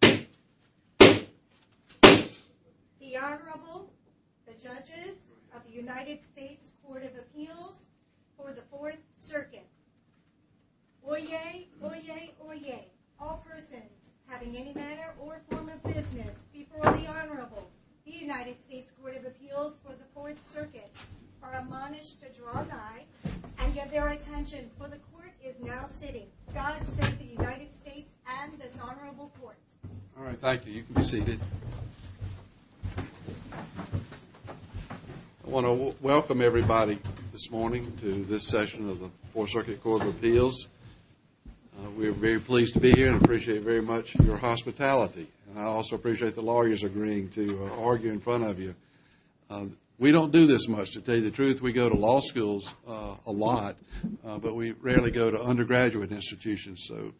The Honorable, the Judges of the United States Court of Appeals for the Fourth Circuit. Oyez! Oyez! Oyez! All persons having any manner or form of business before the Honorable, the United States Court of Appeals for the Fourth Circuit, are admonished to draw nigh and give their attention, for the Court is now sitting. God save the United States and this Honorable Court. All right, thank you. You can be seated. I want to welcome everybody this morning to this session of the Fourth Circuit Court of Appeals. We are very pleased to be here and appreciate very much your hospitality. And I also appreciate the lawyers agreeing to argue in front of you. We don't do this much, to tell you the truth. We go to law schools a lot, but we rarely go to undergraduate institutions. So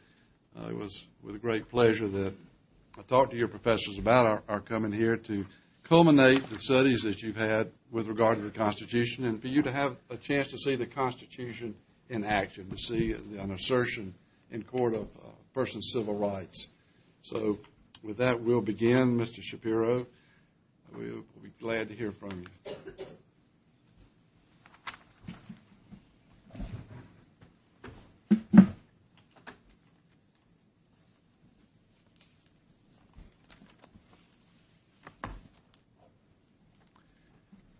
it was with great pleasure that I talked to your professors about our coming here to culminate the studies that you've had with regard to the Constitution and for you to have a chance to see the Constitution in action, to see an assertion in court of a person's civil rights. So with that, we'll begin. Mr. Shapiro, we'll be glad to hear from you.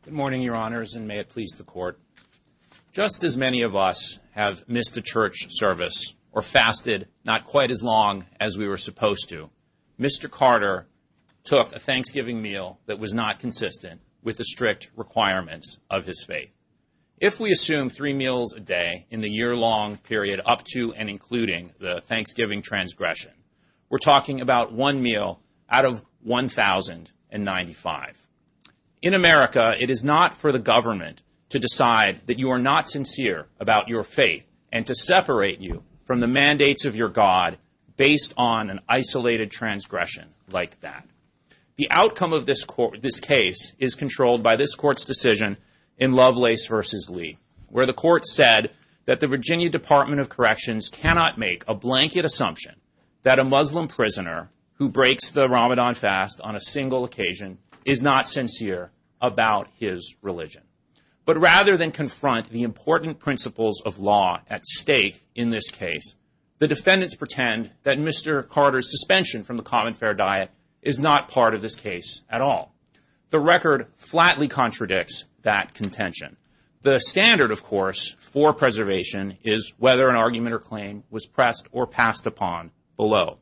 Good morning, Your Honors, and may it please the Court. Just as many of us have missed a church service or fasted not quite as long as we were supposed to, Mr. Carter took a Thanksgiving meal that was not consistent with the strict requirements of his faith. If we assume three meals a day in the year-long period up to and including the Thanksgiving transgression, we're talking about one meal out of 1,095. In America, it is not for the government to decide that you are not sincere about your faith and to separate you from the mandates of your God based on an isolated transgression like that. The outcome of this case is controlled by this Court's decision in Lovelace v. Lee, where the Court said that the Virginia Department of Corrections cannot make a blanket assumption that a Muslim prisoner who breaks the Ramadan fast on a single occasion is not sincere about his religion. But rather than confront the important principles of law at stake in this case, the defendants pretend that Mr. Carter's suspension from the common fair diet is not part of this case at all. The record flatly contradicts that contention. The standard, of course, for preservation is whether an argument or claim was pressed or passed upon below.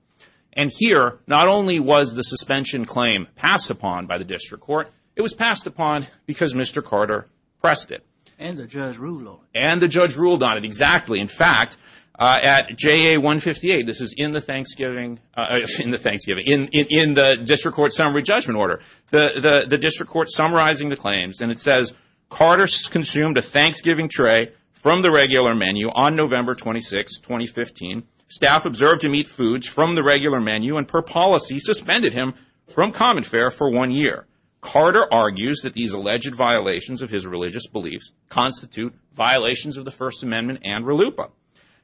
And here, not only was the suspension claim passed upon by the district court, it was passed upon because Mr. Carter pressed it. And the judge ruled on it. And the judge ruled on it, exactly. In fact, at JA 158, this is in the Thanksgiving, in the district court summary judgment order, the district court summarizing the claims, and it says, Carter consumed a Thanksgiving tray from the regular menu on November 26, 2015. Staff observed him eat foods from the regular menu and per policy suspended him from common fair for one year. Carter argues that these alleged violations of his religious beliefs constitute violations of the First Amendment and RLUIPA.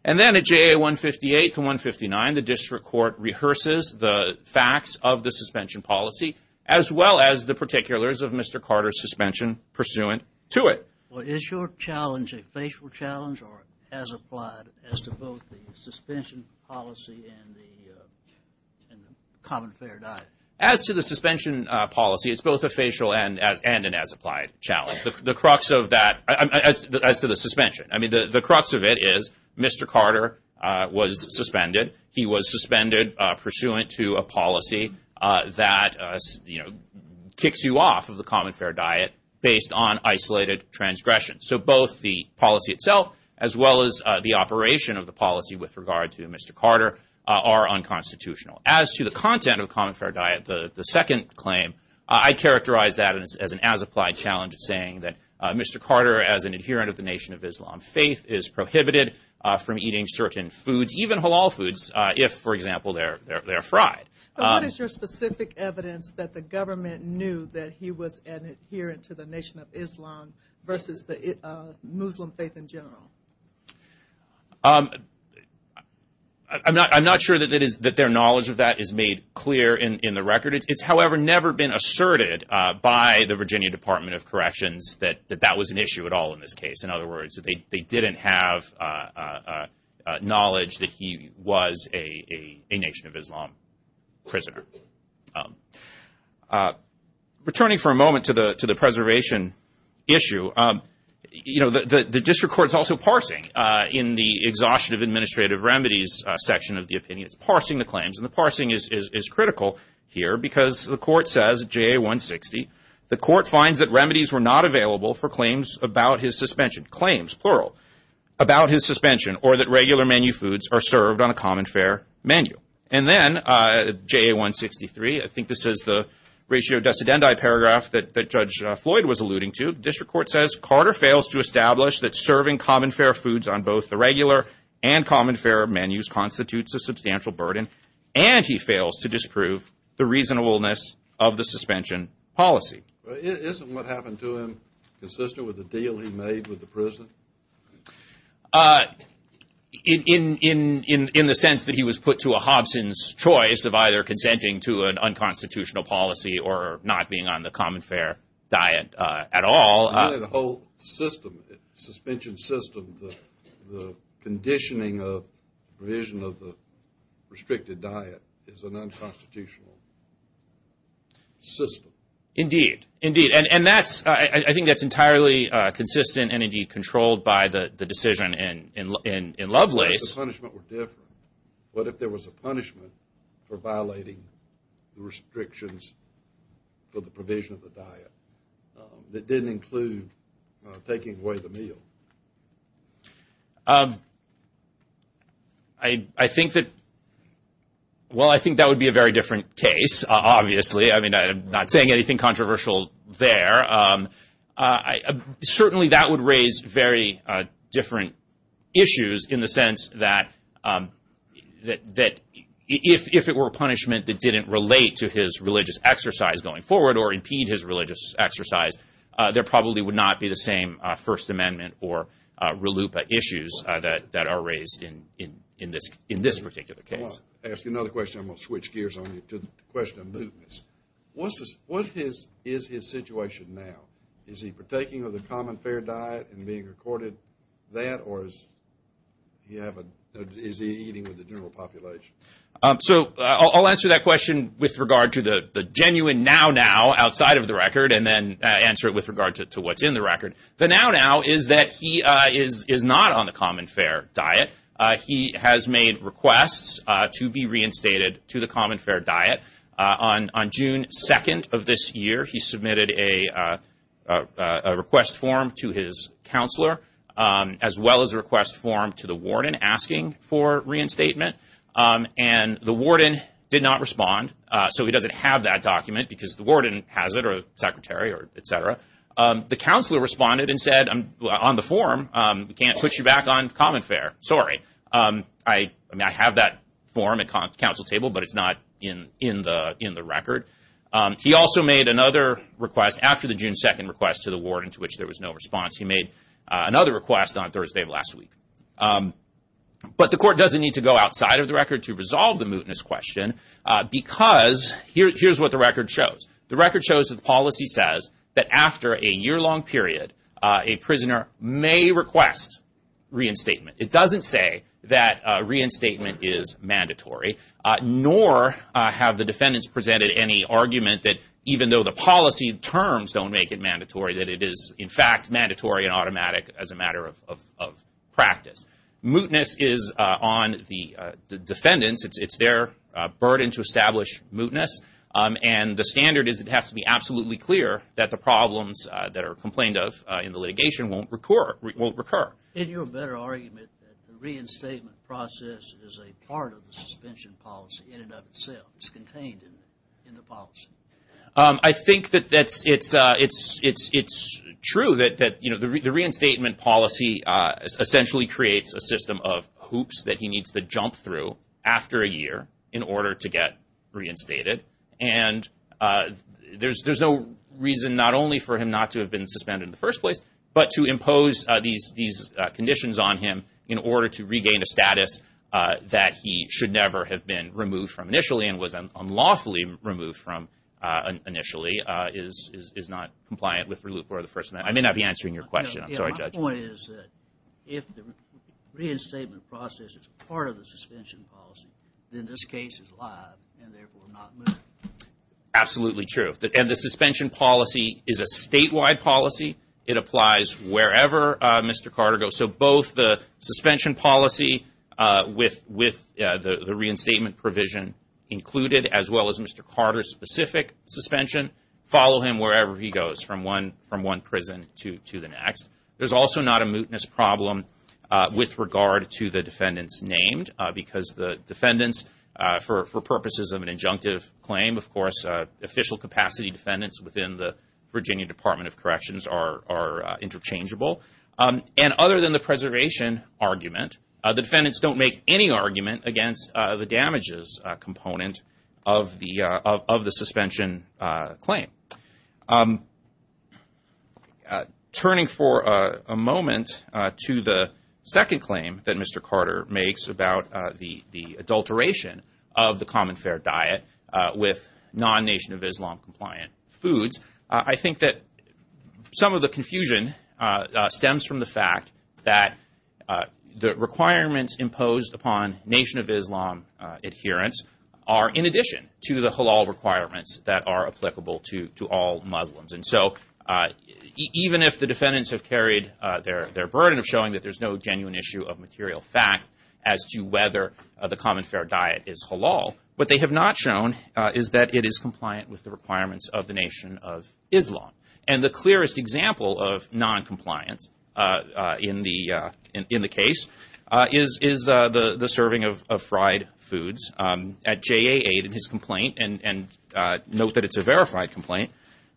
And then at JA 158 to 159, the district court rehearses the facts of the suspension policy, as well as the particulars of Mr. Carter's suspension pursuant to it. Well, is your challenge a facial challenge or as applied as to both the suspension policy and the common fair diet? As to the suspension policy, it's both a facial and an as applied challenge. The crux of that, as to the suspension, I mean, the crux of it is Mr. Carter was suspended. He was suspended pursuant to a policy that, you know, kicks you off of the common fair diet based on isolated transgression. So both the policy itself, as well as the operation of the policy with regard to Mr. Carter, are unconstitutional. As to the content of common fair diet, the second claim, I characterize that as an as applied challenge, saying that Mr. Carter, as an adherent of the Nation of Islam, faith is prohibited from eating certain foods, even halal foods, if, for example, they're fried. What is your specific evidence that the government knew that he was an adherent to the Nation of Islam versus the Muslim faith in general? I'm not sure that their knowledge of that is made clear in the record. It's, however, never been asserted by the Virginia Department of Corrections that that was an issue at all in this case. In other words, they didn't have knowledge that he was a Nation of Islam prisoner. Returning for a moment to the preservation issue, you know, the district court is also parsing in the exhaustion of administrative remedies section of the opinion. It's parsing the claims, and the parsing is critical here because the court says, J.A. 160, the court finds that remedies were not available for claims about his suspension, claims, plural, about his suspension, or that regular menu foods are served on a common fair menu. And then J.A. 163, I think this is the ratio decedendi paragraph that Judge Floyd was alluding to, the district court says Carter fails to establish that serving common fair foods on both the regular and common fair menus constitutes a substantial burden, and he fails to disprove the reasonableness of the suspension policy. Isn't what happened to him consistent with the deal he made with the prison? In the sense that he was put to a Hobson's choice of either consenting to an unconstitutional policy or not being on the common fair diet at all. The whole system, suspension system, the conditioning of provision of the restricted diet is an unconstitutional system. Indeed, indeed, and that's, I think that's entirely consistent and indeed controlled by the decision in Lovelace. What if the punishment were different? What if there was a punishment for violating the restrictions for the provision of the diet that didn't include taking away the meal? I think that, well, I think that would be a very different case, obviously. I mean, I'm not saying anything controversial there. Certainly that would raise very different issues in the sense that if it were a punishment that didn't relate to his religious exercise going forward or impede his religious exercise, there probably would not be the same First Amendment or RLUIPA issues that are raised in this particular case. I'll ask you another question. I'm going to switch gears on you to the question of movements. What is his situation now? Is he partaking of the common fair diet and being recorded that? Or is he eating with the general population? So I'll answer that question with regard to the genuine now now outside of the record and then answer it with regard to what's in the record. The now now is that he is not on the common fair diet. He has made requests to be reinstated to the common fair diet. On June 2nd of this year, he submitted a request form to his counselor, as well as a request form to the warden asking for reinstatement. And the warden did not respond. So he doesn't have that document because the warden has it or the secretary or et cetera. The counselor responded and said, on the form, we can't put you back on common fair. Sorry. I mean, I have that form at council table, but it's not in the record. He also made another request after the June 2nd request to the warden to which there was no response. He made another request on Thursday of last week. But the court doesn't need to go outside of the record to resolve the mootness question because here's what the record shows. The record shows that the policy says that after a yearlong period, a prisoner may request reinstatement. It doesn't say that reinstatement is mandatory, nor have the defendants presented any argument that even though the policy terms don't make it mandatory, that it is, in fact, mandatory and automatic as a matter of practice. Mootness is on the defendants. It's their burden to establish mootness. And the standard is it has to be absolutely clear that the problems that are complained of in the litigation won't recur. In your better argument, the reinstatement process is a part of the suspension policy in and of itself. It's contained in the policy. I think that it's true that the reinstatement policy essentially creates a system of hoops that he needs to jump through after a year in order to get reinstated. And there's no reason not only for him not to have been suspended in the first place, but to impose these conditions on him in order to regain a status that he should never have been removed from initially and was unlawfully removed from initially is not compliant with Reloop or the First Amendment. I may not be answering your question. I'm sorry, Judge. My point is that if the reinstatement process is part of the suspension policy, then this case is live and therefore not moot. Absolutely true. And the suspension policy is a statewide policy. It applies wherever Mr. Carter goes. So both the suspension policy with the reinstatement provision included, as well as Mr. Carter's specific suspension, follow him wherever he goes from one prison to the next. There's also not a mootness problem with regard to the defendants named because the defendants, for purposes of an injunctive claim, of course, official capacity defendants within the Virginia Department of Corrections are interchangeable. And other than the preservation argument, the defendants don't make any argument against the damages component of the suspension claim. Turning for a moment to the second claim that Mr. Carter makes about the adulteration of the common fair diet with non-Nation of Islam compliant foods, I think that some of the confusion stems from the fact that the requirements imposed upon Nation of Islam adherents are in addition to the halal requirements that are applicable to all Muslims. And so even if the defendants have carried their burden of showing that there's no genuine issue of material fact as to whether the common fair diet is halal, what they have not shown is that it is compliant with the requirements of the Nation of Islam. And the clearest example of non-compliance in the case is the serving of fried foods. At JA8 in his complaint, and note that it's a verified complaint,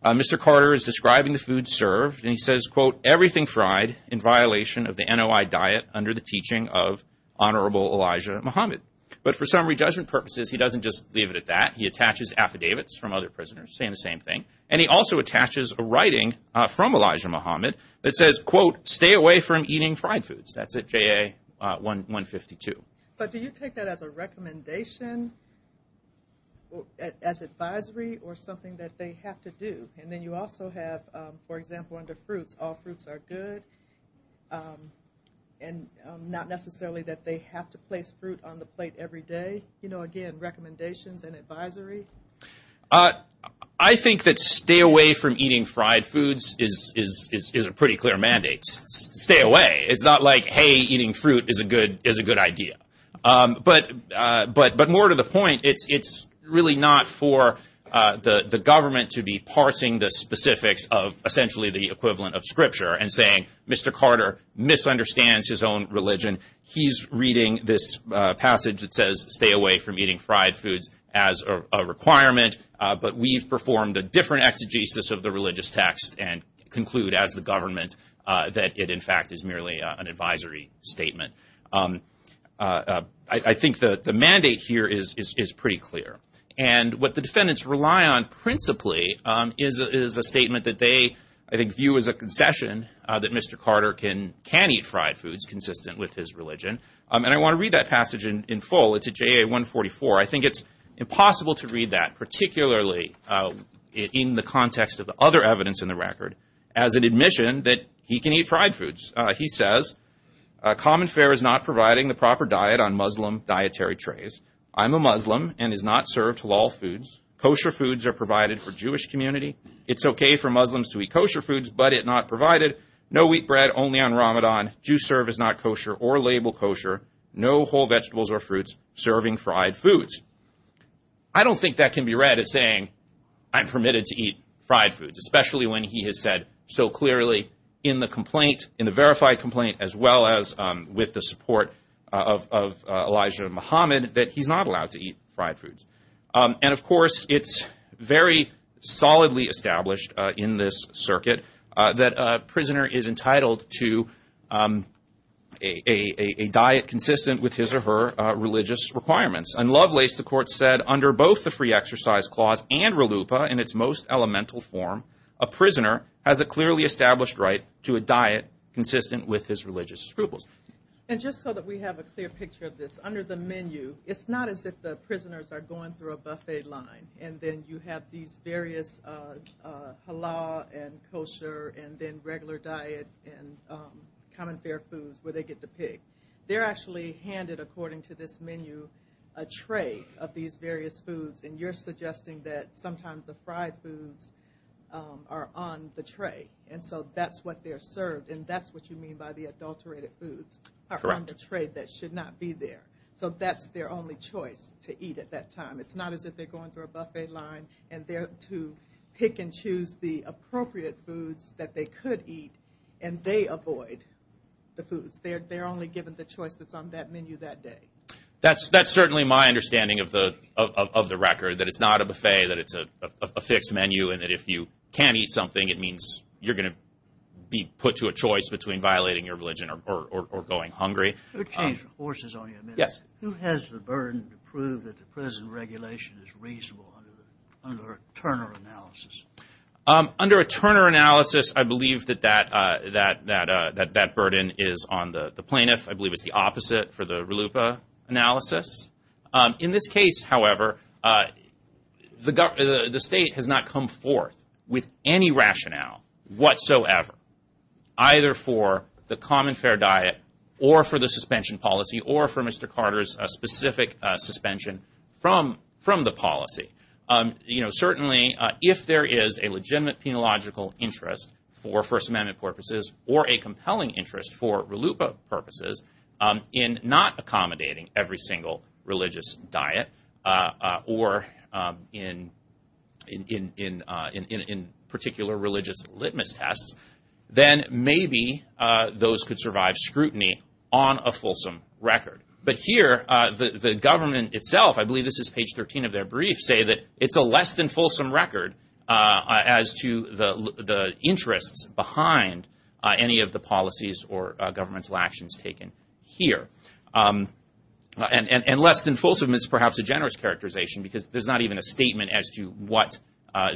Mr. Carter is describing the food served and he says, quote, everything fried in violation of the NOI diet under the teaching of Honorable Elijah Muhammad. But for summary judgment purposes, he doesn't just leave it at that. He attaches affidavits from other prisoners saying the same thing. And he also attaches a writing from Elijah Muhammad that says, quote, stay away from eating fried foods. That's at JA152. But do you take that as a recommendation, as advisory, or something that they have to do? And then you also have, for example, under fruits, all fruits are good. And not necessarily that they have to place fruit on the plate every day. You know, again, recommendations and advisory. I think that stay away from eating fried foods is a pretty clear mandate. Stay away. It's not like, hey, eating fruit is a good idea. But more to the point, it's really not for the government to be parsing the specifics of essentially the equivalent of scripture and saying, Mr. Carter misunderstands his own religion. He's reading this passage that says stay away from eating fried foods as a requirement. But we've performed a different exegesis of the religious text and conclude as the government that it, in fact, is merely an advisory statement. I think the mandate here is pretty clear. And what the defendants rely on principally is a statement that they, I think, view as a concession that Mr. Carter can eat fried foods consistent with his religion. And I want to read that passage in full. It's at JA 144. I think it's impossible to read that, particularly in the context of the other evidence in the record, as an admission that he can eat fried foods. He says, common fair is not providing the proper diet on Muslim dietary trays. I'm a Muslim and is not served halal foods. Kosher foods are provided for Jewish community. It's okay for Muslims to eat kosher foods, but it not provided. No wheat bread, only on Ramadan. Juice served is not kosher or labeled kosher. No whole vegetables or fruits serving fried foods. I don't think that can be read as saying I'm permitted to eat fried foods, especially when he has said so clearly in the complaint, in the verified complaint, as well as with the support of Elijah Muhammad that he's not allowed to eat fried foods. And, of course, it's very solidly established in this circuit that a prisoner is entitled to a diet consistent with his or her religious requirements. And Lovelace, the court said, under both the free exercise clause and RELUPA in its most elemental form, a prisoner has a clearly established right to a diet consistent with his religious scruples. And just so that we have a clear picture of this, under the menu, it's not as if the prisoners are going through a buffet line, and then you have these various halal and kosher and then regular diet and common fair foods where they get to pick. They're actually handed, according to this menu, a tray of these various foods, and you're suggesting that sometimes the fried foods are on the tray, and so that's what they're served, and that's what you mean by the adulterated foods are on the tray that should not be there. So that's their only choice to eat at that time. It's not as if they're going through a buffet line, and they're to pick and choose the appropriate foods that they could eat, and they avoid the foods. They're only given the choice that's on that menu that day. That's certainly my understanding of the record, that it's not a buffet, that it's a fixed menu, and that if you can't eat something, it means you're going to be put to a choice between violating your religion or going hungry. Let me change horses on you a minute. Who has the burden to prove that the present regulation is reasonable under a Turner analysis? Under a Turner analysis, I believe that that burden is on the plaintiff. I believe it's the opposite for the RLUIPA analysis. In this case, however, the state has not come forth with any rationale whatsoever, either for the common fair diet or for the suspension policy or for Mr. Carter's specific suspension from the policy. Certainly, if there is a legitimate penological interest for First Amendment purposes or a compelling interest for RLUIPA purposes in not accommodating every single religious diet or in particular religious litmus tests, then maybe those could survive scrutiny on a fulsome record. But here, the government itself, I believe this is page 13 of their brief, say that it's a less than fulsome record as to the interests behind any of the policies or governmental actions taken here. And less than fulsome is perhaps a generous characterization because there's not even a statement as to what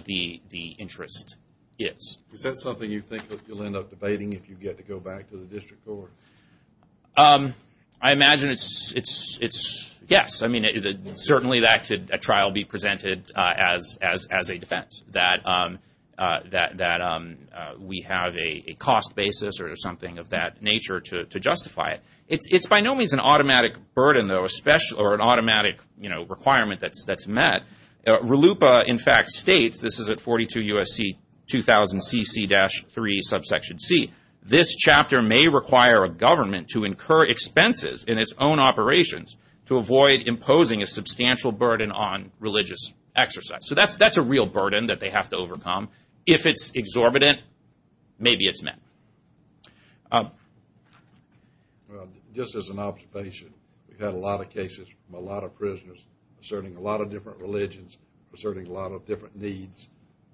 the interest is. Is that something you think you'll end up debating if you get to go back to the district court? I imagine it's yes. I mean, certainly that could at trial be presented as a defense, that we have a cost basis or something of that nature to justify it. It's by no means an automatic burden or an automatic requirement that's met. RLUIPA in fact states, this is at 42 U.S.C. 2000 CC-3 subsection C, this chapter may require a government to incur expenses in its own operations to avoid imposing a substantial burden on religious exercise. So that's a real burden that they have to overcome. If it's exorbitant, maybe it's met. Just as an observation, we've had a lot of cases from a lot of prisoners asserting a lot of different religions, asserting a lot of different needs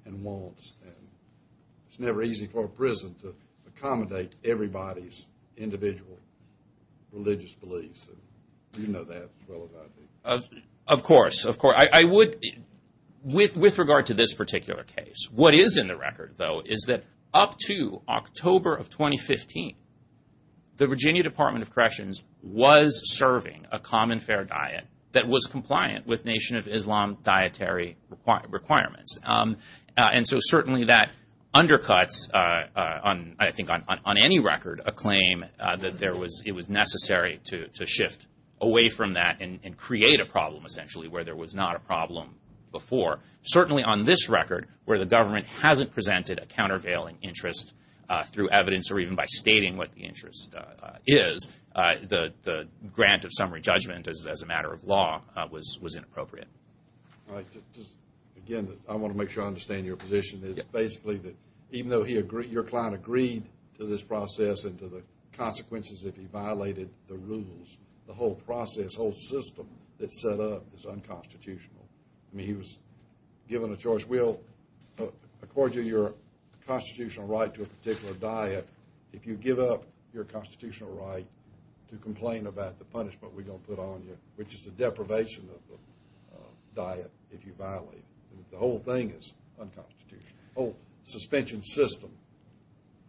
and wants. It's never easy for a prison to accommodate everybody's individual religious beliefs. You know that as well as I do. Of course, of course. I would, with regard to this particular case, What is in the record though is that up to October of 2015, the Virginia Department of Corrections was serving a common fair diet that was compliant with Nation of Islam dietary requirements. And so certainly that undercuts, I think on any record, a claim that it was necessary to shift away from that and create a problem essentially where there was not a problem before. Certainly on this record where the government hasn't presented a countervailing interest through evidence or even by stating what the interest is, the grant of summary judgment as a matter of law was inappropriate. Again, I want to make sure I understand your position. It's basically that even though your client agreed to this process and to the consequences if he violated the rules, the whole process, whole system that's set up is unconstitutional. I mean, he was given a choice. We'll accord you your constitutional right to a particular diet if you give up your constitutional right to complain about the punishment we're going to put on you, which is a deprivation of the diet if you violate it. The whole thing is unconstitutional. The whole suspension system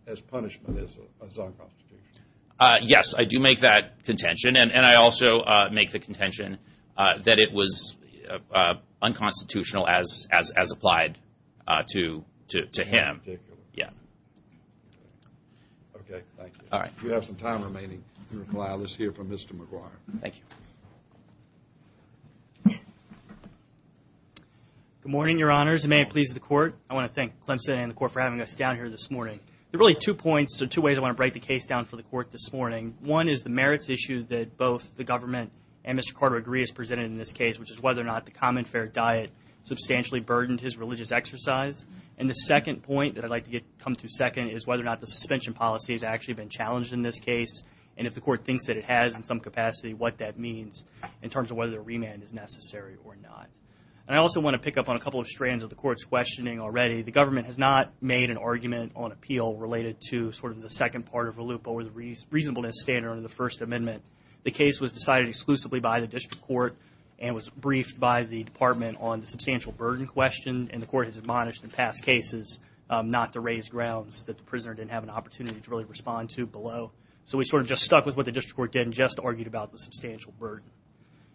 as punishment is unconstitutional. Yes, I do make that contention. And I also make the contention that it was unconstitutional as applied to him. In particular. Yes. Okay, thank you. All right. We have some time remaining to reply. Let's hear from Mr. McGuire. Thank you. Good morning, Your Honors, and may it please the Court. I want to thank Clemson and the Court for having us down here this morning. There are really two points or two ways I want to break the case down for the Court this morning. One is the merits issue that both the government and Mr. Carter agree is presented in this case, which is whether or not the common fair diet substantially burdened his religious exercise. And the second point that I'd like to come to second is whether or not the suspension policy has actually been challenged in this case, and if the Court thinks that it has in some capacity, what that means, in terms of whether a remand is necessary or not. And I also want to pick up on a couple of strands of the Court's questioning already. The government has not made an argument on appeal related to sort of the second part of a loop over the reasonableness standard under the First Amendment. The case was decided exclusively by the District Court and was briefed by the Department on the substantial burden question, and the Court has admonished in past cases not to raise grounds that the prisoner didn't have an opportunity to really respond to below. So we sort of just stuck with what the District Court did and just argued about the substantial burden.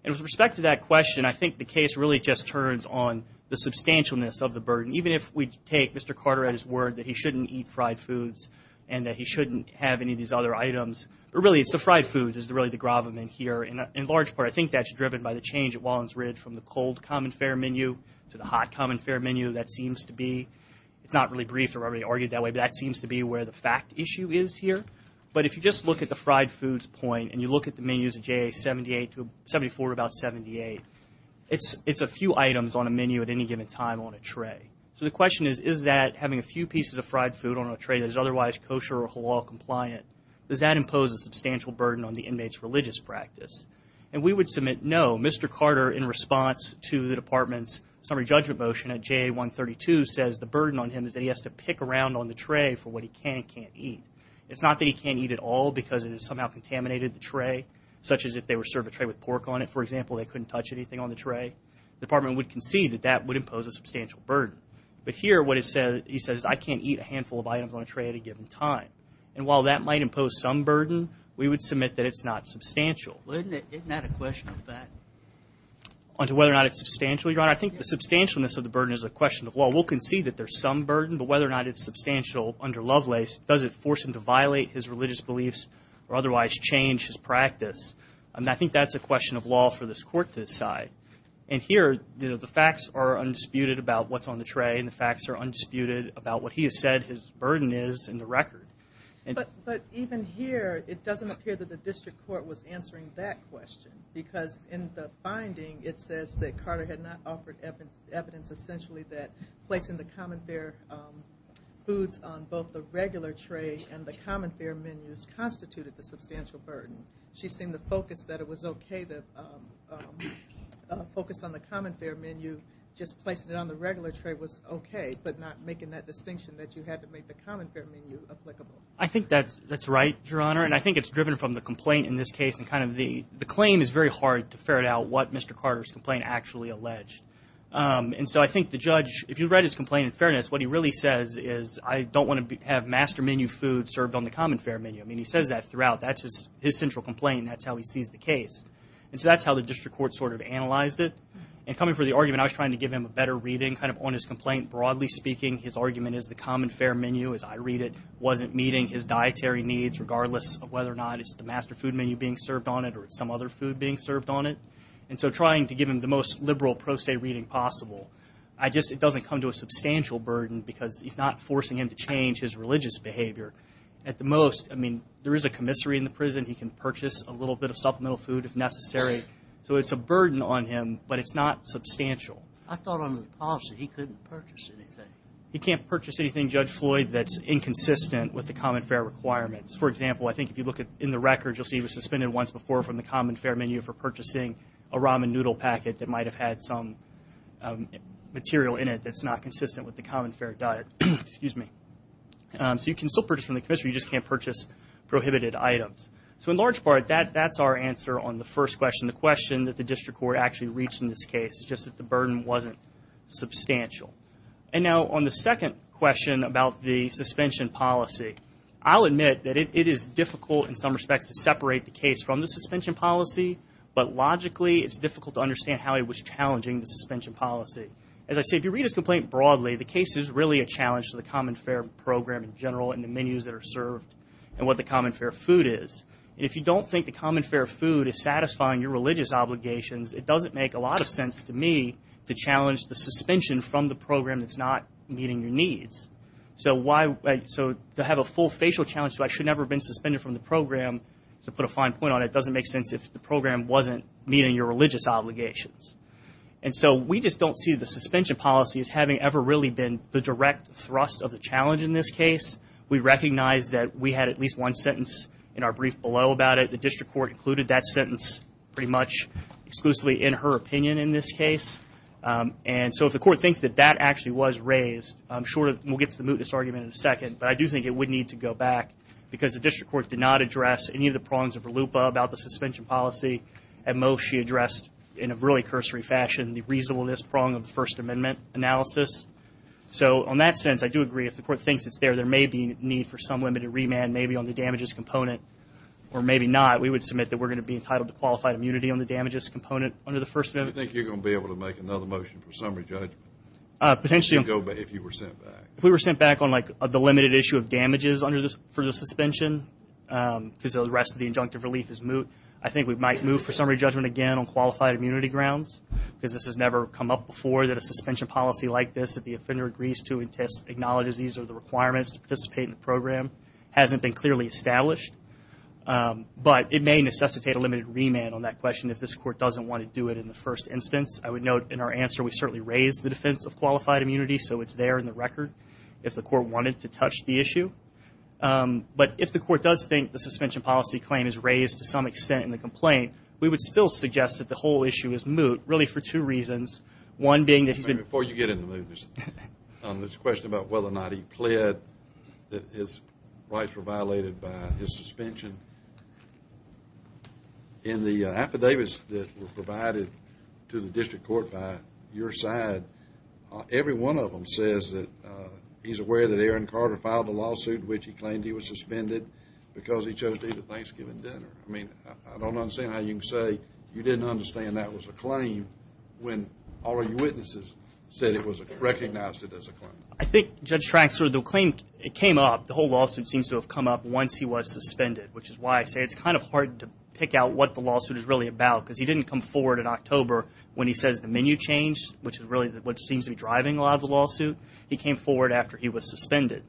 And with respect to that question, I think the case really just turns on the substantialness of the burden. Even if we take Mr. Carter at his word that he shouldn't eat fried foods and that he shouldn't have any of these other items, but really it's the fried foods is really the gravamen here. In large part, I think that's driven by the change at Wallens Ridge from the cold common fare menu to the hot common fare menu. That seems to be, it's not really briefed or really argued that way, but that seems to be where the fact issue is here. But if you just look at the fried foods point and you look at the menus of JA-78 to 74 to about 78, it's a few items on a menu at any given time on a tray. that is otherwise kosher or halal compliant, does that impose a substantial burden on the inmate's religious practice? And we would submit no. Mr. Carter, in response to the Department's summary judgment motion at JA-132, says the burden on him is that he has to pick around on the tray for what he can and can't eat. It's not that he can't eat at all because it has somehow contaminated the tray, such as if they were served a tray with pork on it, for example, they couldn't touch anything on the tray. The Department would concede that that would impose a substantial burden. But here what he says is I can't eat a handful of items on a tray at a given time. And while that might impose some burden, we would submit that it's not substantial. Isn't that a question of fact? On to whether or not it's substantial, Your Honor, I think the substantialness of the burden is a question of law. We'll concede that there's some burden, but whether or not it's substantial under Lovelace, does it force him to violate his religious beliefs or otherwise change his practice? I think that's a question of law for this Court to decide. And here the facts are undisputed about what's on the tray and the facts are undisputed about what he has said his burden is in the record. But even here it doesn't appear that the District Court was answering that question because in the finding it says that Carter had not offered evidence essentially that placing the common fare foods on both the regular tray and the common fare menus constituted the substantial burden. She seemed to focus that it was okay to focus on the common fare menu, just placing it on the regular tray was okay, but not making that distinction that you had to make the common fare menu applicable. I think that's right, Your Honor, and I think it's driven from the complaint in this case and kind of the claim is very hard to ferret out what Mr. Carter's complaint actually alleged. And so I think the judge, if you read his complaint in fairness, what he really says is I don't want to have master menu food served on the common fare menu. I mean, he says that throughout. That's his central complaint and that's how he sees the case. And so that's how the District Court sort of analyzed it. And coming from the argument, I was trying to give him a better reading kind of on his complaint. Broadly speaking, his argument is the common fare menu, as I read it, wasn't meeting his dietary needs regardless of whether or not it's the master food menu being served on it or it's some other food being served on it. And so trying to give him the most liberal pro se reading possible, it doesn't come to a substantial burden because he's not forcing him to change his religious behavior. At the most, I mean, there is a commissary in the prison. He can purchase a little bit of supplemental food if necessary. So it's a burden on him, but it's not substantial. I thought under the policy he couldn't purchase anything. He can't purchase anything, Judge Floyd, that's inconsistent with the common fare requirements. For example, I think if you look in the records, you'll see he was suspended once before from the common fare menu for purchasing a ramen noodle packet that might have had some material in it that's not consistent with the common fare diet. So you can still purchase from the commissary, you just can't purchase prohibited items. So in large part, that's our answer on the first question. The question that the district court actually reached in this case is just that the burden wasn't substantial. And now on the second question about the suspension policy, I'll admit that it is difficult in some respects to separate the case from the suspension policy, but logically it's difficult to understand how he was challenging the suspension policy. As I say, if you read his complaint broadly, the case is really a challenge to the common fare program in general and the menus that are served and what the common fare food is. And if you don't think the common fare food is satisfying your religious obligations, it doesn't make a lot of sense to me to challenge the suspension from the program that's not meeting your needs. So to have a full facial challenge to I should never have been suspended from the program, to put a fine point on it, doesn't make sense if the program wasn't meeting your religious obligations. And so we just don't see the suspension policy as having ever really been the direct thrust of the challenge in this case. We recognize that we had at least one sentence in our brief below about it. The district court included that sentence pretty much exclusively in her opinion in this case. And so if the court thinks that that actually was raised, I'm sure we'll get to the mootness argument in a second, but I do think it would need to go back because the district court did not address any of the prongs of Verlupa about the suspension policy. At most, she addressed in a really cursory fashion the reasonableness prong of the First Amendment analysis. So on that sense, I do agree. If the court thinks it's there, there may be a need for some limited remand maybe on the damages component. Or maybe not. We would submit that we're going to be entitled to qualified immunity on the damages component under the First Amendment. Do you think you're going to be able to make another motion for summary judgment? Potentially. If you were sent back. If we were sent back on, like, the limited issue of damages for the suspension, because the rest of the injunctive relief is moot, I think we might move for summary judgment again on qualified immunity grounds because this has never come up before that a suspension policy like this that the offender agrees to and acknowledges these are the requirements to participate in the program hasn't been clearly established. But it may necessitate a limited remand on that question if this court doesn't want to do it in the first instance. I would note in our answer we certainly raised the defense of qualified immunity, so it's there in the record if the court wanted to touch the issue. But if the court does think the suspension policy claim is raised to some extent in the complaint, we would still suggest that the whole issue is moot, really for two reasons. One being that he's been- Before you get into mootness, there's a question about whether or not he pled that his rights were violated by his suspension. In the affidavits that were provided to the district court by your side, every one of them says that he's aware that Aaron Carter filed a lawsuit in which he claimed he was suspended because he chose to eat a Thanksgiving dinner. I mean, I don't understand how you can say you didn't understand that was a claim when all of your witnesses said it was recognized as a claim. I think, Judge Traxler, the claim came up, the whole lawsuit seems to have come up once he was suspended, which is why I say it's kind of hard to pick out what the lawsuit is really about because he didn't come forward in October when he says the menu changed, which is really what seems to be driving a lot of the lawsuit. He came forward after he was suspended.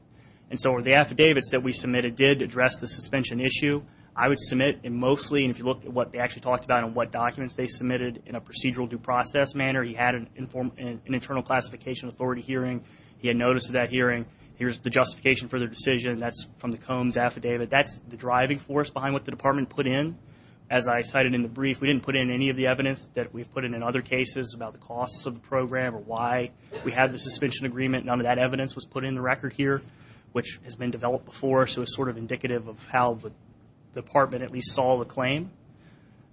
And so the affidavits that we submitted did address the suspension issue. I would submit, and mostly if you look at what they actually talked about and what documents they submitted in a procedural due process manner, he had an internal classification authority hearing. He had notice of that hearing. Here's the justification for the decision. That's from the Combs affidavit. That's the driving force behind what the department put in. As I cited in the brief, we didn't put in any of the evidence that we've put in other cases about the costs of the program or why we had the suspension agreement. None of that evidence was put in the record here, which has been developed before, so it's sort of indicative of how the department at least saw the claim.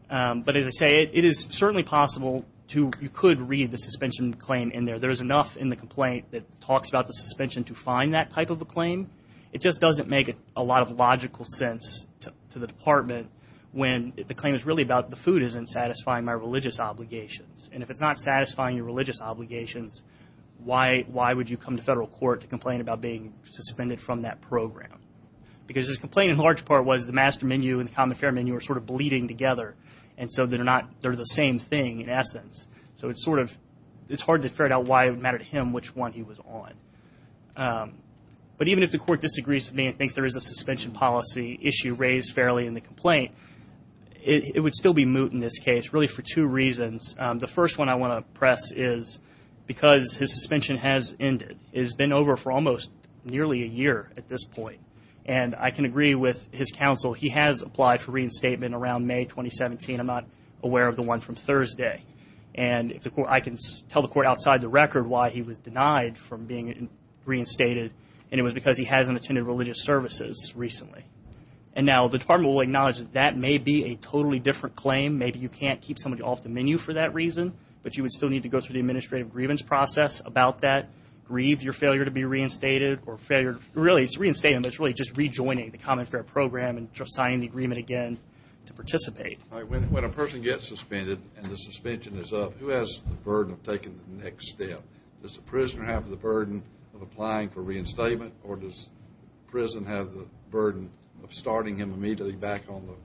But as I say, it is certainly possible to read the suspension claim in there. There is enough in the complaint that talks about the suspension to find that type of a claim. It just doesn't make a lot of logical sense to the department when the claim is really about the food isn't satisfying my religious obligations. And if it's not satisfying your religious obligations, why would you come to federal court to complain about being suspended from that program? Because his complaint in large part was the master menu and the common fare menu are sort of bleeding together, and so they're the same thing in essence. So it's hard to figure out why it would matter to him which one he was on. But even if the court disagrees with me and thinks there is a suspension policy issue raised fairly in the complaint, it would still be moot in this case really for two reasons. The first one I want to press is because his suspension has ended. It has been over for almost nearly a year at this point. And I can agree with his counsel. He has applied for reinstatement around May 2017. I'm not aware of the one from Thursday. And I can tell the court outside the record why he was denied from being reinstated, and it was because he hasn't attended religious services recently. And now the department will acknowledge that that may be a totally different claim. Maybe you can't keep somebody off the menu for that reason, but you would still need to go through the administrative grievance process about that, grieve your failure to be reinstated or failure to really just rejoining the common fare program and signing the agreement again to participate. All right. When a person gets suspended and the suspension is up, who has the burden of taking the next step? Does the prisoner have the burden of applying for reinstatement or does the prison have the burden of starting him immediately back on the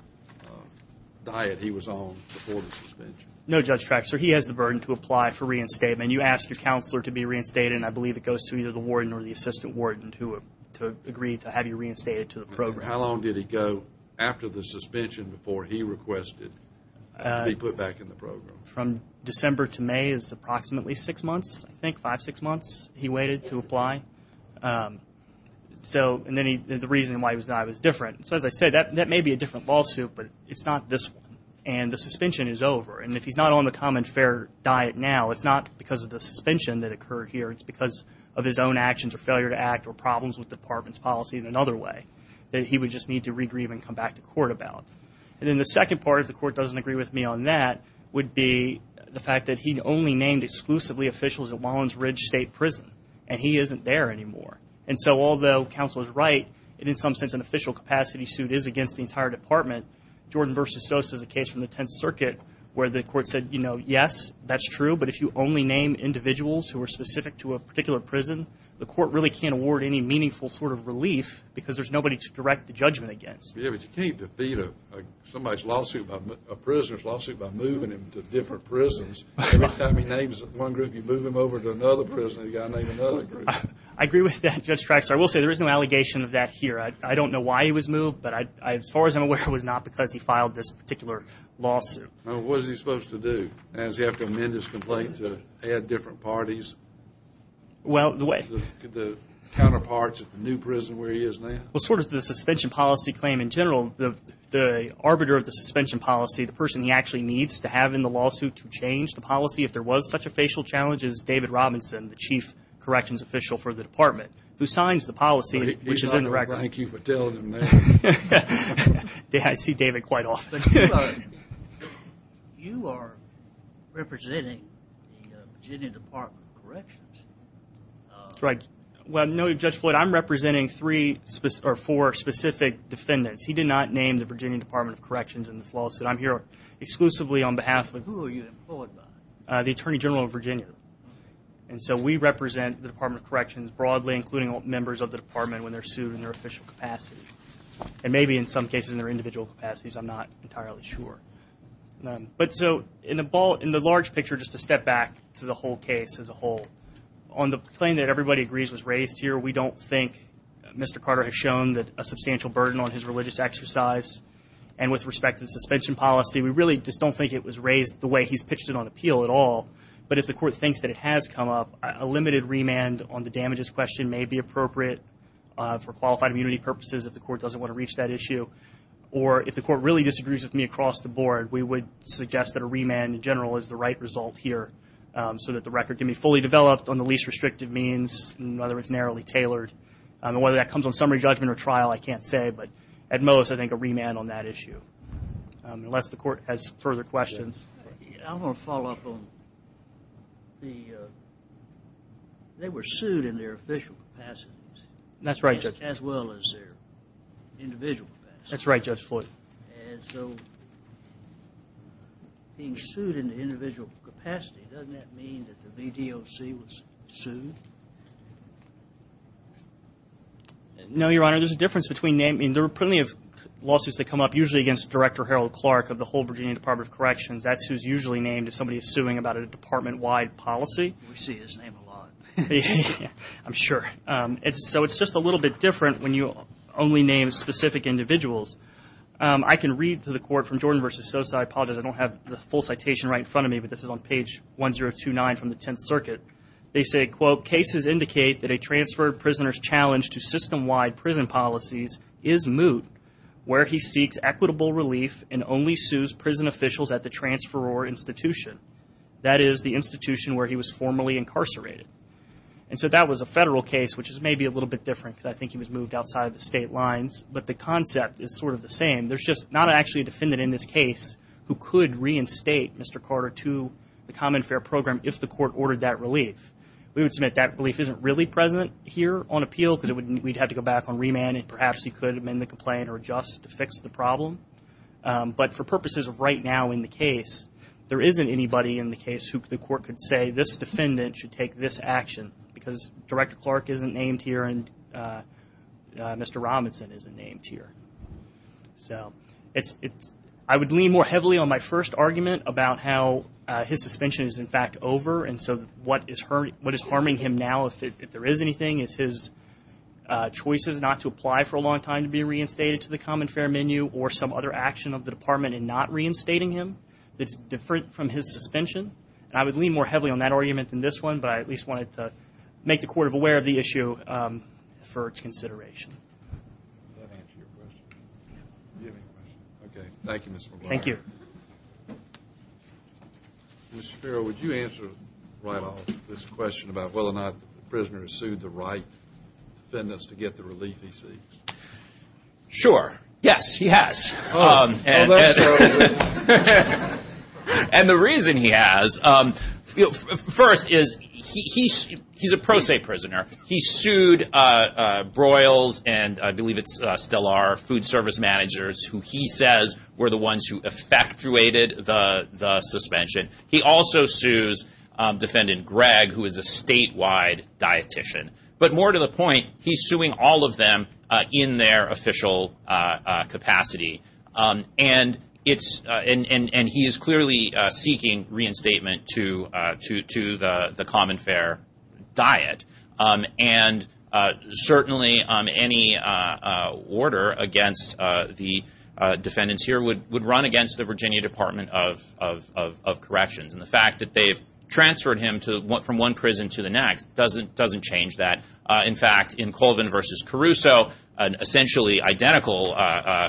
diet he was on before the suspension? No, Judge Traxler. He has the burden to apply for reinstatement. You ask your counselor to be reinstated, and I believe it goes to either the warden or the assistant warden to agree to have you reinstated to the program. How long did he go after the suspension before he requested to be put back in the program? From December to May is approximately six months, I think, five, six months he waited to apply. So the reason why he was not was different. So as I said, that may be a different lawsuit, but it's not this one. And the suspension is over. And if he's not on the common fare diet now, it's not because of the suspension that occurred here. It's because of his own actions or failure to act or problems with department's policy in another way that he would just need to regrieve and come back to court about. And then the second part, if the court doesn't agree with me on that, would be the fact that he only named exclusively officials at Wallens Ridge State Prison, and he isn't there anymore. And so although counsel is right, in some sense an official capacity suit is against the entire department. Jordan v. Sosa is a case from the Tenth Circuit where the court said, you know, yes, that's true, but if you only name individuals who are specific to a particular prison, the court really can't award any meaningful sort of relief because there's nobody to direct the judgment against. Yeah, but you can't defeat somebody's lawsuit, a prisoner's lawsuit, by moving him to different prisons. Every time he names one group, you move him over to another prison, and you've got to name another group. I agree with that, Judge Traxler. I will say there is no allegation of that here. I don't know why he was moved, but as far as I'm aware, it was not because he filed this particular lawsuit. What is he supposed to do? Does he have to amend his complaint to add different parties? Well, the way. The counterparts at the new prison where he is now? Well, sort of the suspension policy claim in general. The arbiter of the suspension policy, the person he actually needs to have in the lawsuit to change the policy if there was such a facial challenge is David Robinson, the chief corrections official for the department, who signs the policy, which is in the record. He's not going to thank you for telling him that. I see David quite often. You are representing the Virginia Department of Corrections. That's right. Well, no, Judge Floyd, I'm representing three or four specific defendants. He did not name the Virginia Department of Corrections in this lawsuit. I'm here exclusively on behalf of. Who are you employed by? The Attorney General of Virginia. And so we represent the Department of Corrections broadly, including members of the department when they're sued in their official capacities, and maybe in some cases in their individual capacities. I'm not entirely sure. But so in the large picture, just to step back to the whole case as a whole, on the claim that everybody agrees was raised here, we don't think Mr. Carter has shown a substantial burden on his religious exercise. And with respect to the suspension policy, we really just don't think it was raised the way he's pitched it on appeal at all. But if the court thinks that it has come up, a limited remand on the damages question may be appropriate for qualified immunity purposes if the court doesn't want to reach that issue. Or if the court really disagrees with me across the board, we would suggest that a remand in general is the right result here so that the record can be fully developed on the least restrictive means, whether it's narrowly tailored. Whether that comes on summary judgment or trial, I can't say. But at most, I think a remand on that issue. Unless the court has further questions. I want to follow up on the they were sued in their official capacities. That's right, Judge. As well as their individual capacities. That's right, Judge Floyd. And so being sued in the individual capacity, doesn't that mean that the VDOC was sued? No, Your Honor. There's a difference between names. There are plenty of lawsuits that come up, usually against Director Harold Clark of the whole Virginia Department of Corrections. That's who's usually named if somebody is suing about a department-wide policy. We see his name a lot. I'm sure. So it's just a little bit different when you only name specific individuals. I can read to the court from Jordan v. Sosa. I apologize, I don't have the full citation right in front of me, but this is on page 1029 from the Tenth Circuit. They say, quote, cases indicate that a transferred prisoner's challenge to system-wide prison policies is moot where he seeks equitable relief and only sues prison officials at the transferor institution. That is, the institution where he was formerly incarcerated. And so that was a federal case, which is maybe a little bit different because I think he was moved outside the state lines, but the concept is sort of the same. There's just not actually a defendant in this case who could reinstate Mr. Carter to the common fair program if the court ordered that relief. We would submit that belief isn't really present here on appeal because we'd have to go back on remand, and perhaps he could amend the complaint or adjust to fix the problem. But for purposes of right now in the case, there isn't anybody in the case who the court could say, this defendant should take this action because Director Clark isn't named here and Mr. Robinson isn't named here. So I would lean more heavily on my first argument about how his suspension is, in fact, over, and so what is harming him now, if there is anything, is his choices not to apply for a long time to be reinstated to the common fair menu or some other action of the department in not reinstating him that's different from his suspension. And I would lean more heavily on that argument than this one, but I at least wanted to make the court aware of the issue for its consideration. Does that answer your question? Yeah. Do you have any questions? Okay. Thank you, Mr. McGuire. Thank you. Mr. Ferrell, would you answer right off this question about whether or not the prisoner has sued the right defendants to get the relief he seeks? Sure. Yes, he has. Oh, that's fair. And the reason he has, first, is he's a pro se prisoner. He sued Broyles and I believe it's still our food service managers who he says were the ones who effectuated the suspension. He also sues Defendant Gregg, who is a statewide dietitian. But more to the point, he's suing all of them in their official capacity, and he is clearly seeking reinstatement to the common fair diet. And certainly any order against the defendants here would run against the Virginia Department of Corrections. And the fact that they've transferred him from one prison to the next doesn't change that. In fact, in Colvin v. Caruso, an essentially identical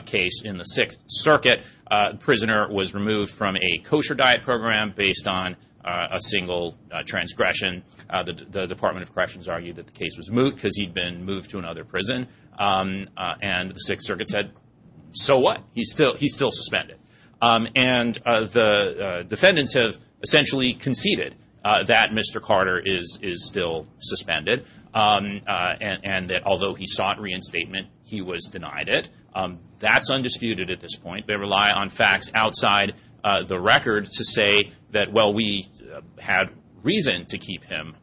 case in the Sixth Circuit, the prisoner was removed from a kosher diet program based on a single transgression. The Department of Corrections argued that the case was moot because he'd been moved to another prison. And the Sixth Circuit said, so what? He's still suspended. And the defendants have essentially conceded that Mr. Carter is still suspended, and that although he sought reinstatement, he was denied it. That's undisputed at this point. They rely on facts outside the record to say that, well, we had reason to keep him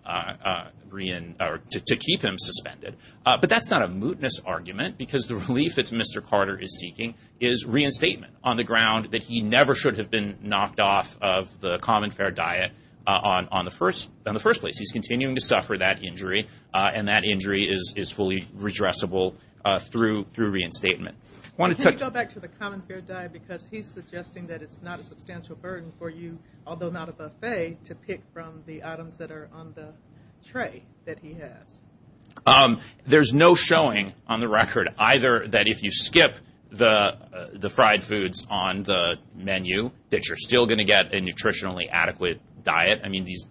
suspended. But that's not a mootness argument because the relief that Mr. Carter is seeking is reinstatement on the ground that he never should have been knocked off of the common fair diet in the first place. He's continuing to suffer that injury, and that injury is fully redressable through reinstatement. Can you go back to the common fair diet? Because he's suggesting that it's not a substantial burden for you, although not a buffet, to pick from the items that are on the tray that he has. There's no showing on the record either that if you skip the fried foods on the menu that you're still going to get a nutritionally adequate diet. I mean, these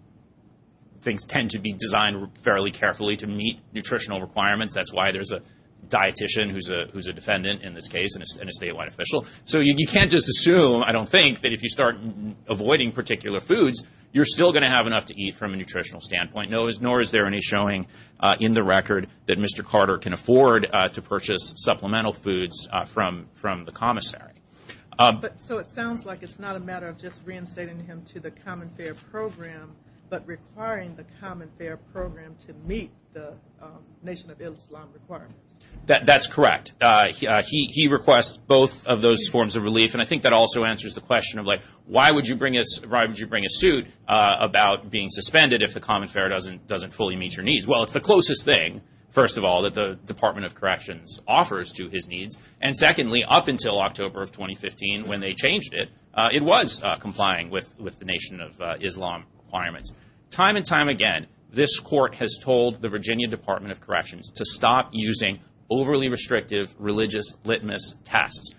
things tend to be designed fairly carefully to meet nutritional requirements. That's why there's a dietician who's a defendant in this case and a statewide official. So you can't just assume, I don't think, that if you start avoiding particular foods, you're still going to have enough to eat from a nutritional standpoint, nor is there any showing in the record that Mr. Carter can afford to purchase supplemental foods from the commissary. So it sounds like it's not a matter of just reinstating him to the common fair program, but requiring the common fair program to meet the Nation of Islam requirements. That's correct. He requests both of those forms of relief, and I think that also answers the question of, why would you bring a suit about being suspended if the common fair doesn't fully meet your needs? Well, it's the closest thing, first of all, that the Department of Corrections offers to his needs, and secondly, up until October of 2015 when they changed it, it was complying with the Nation of Islam requirements. Time and time again, this court has told the Virginia Department of Corrections to stop using overly restrictive religious litmus tests.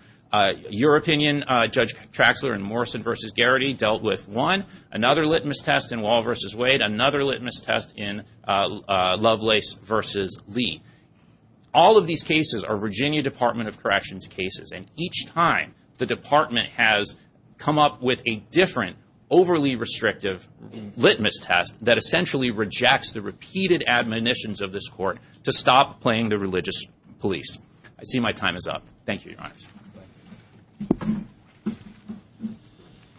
Your opinion, Judge Traxler, in Morrison v. Garrity, dealt with one. Another litmus test in Wall v. Wade. Another litmus test in Lovelace v. Lee. All of these cases are Virginia Department of Corrections cases, and each time the department has come up with a different overly restrictive litmus test that essentially rejects the repeated admonitions of this court to stop playing the religious police. I see my time is up. Thank you, Your Honors.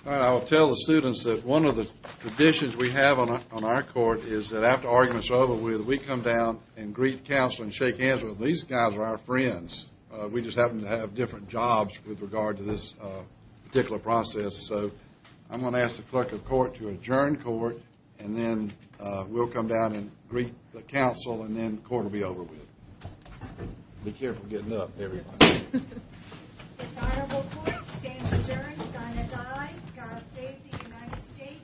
I will tell the students that one of the traditions we have on our court is that after arguments are over, we come down and greet counsel and shake hands with them. These guys are our friends. We just happen to have different jobs with regard to this particular process. So I'm going to ask the clerk of court to adjourn court, and then we'll come down and greet the counsel, and then the court will be over with. Be careful getting up, everyone. Yes, sir. Dishonorable court stands adjourned. Sign a tie. God save the United States and dishonorable court. Go ahead.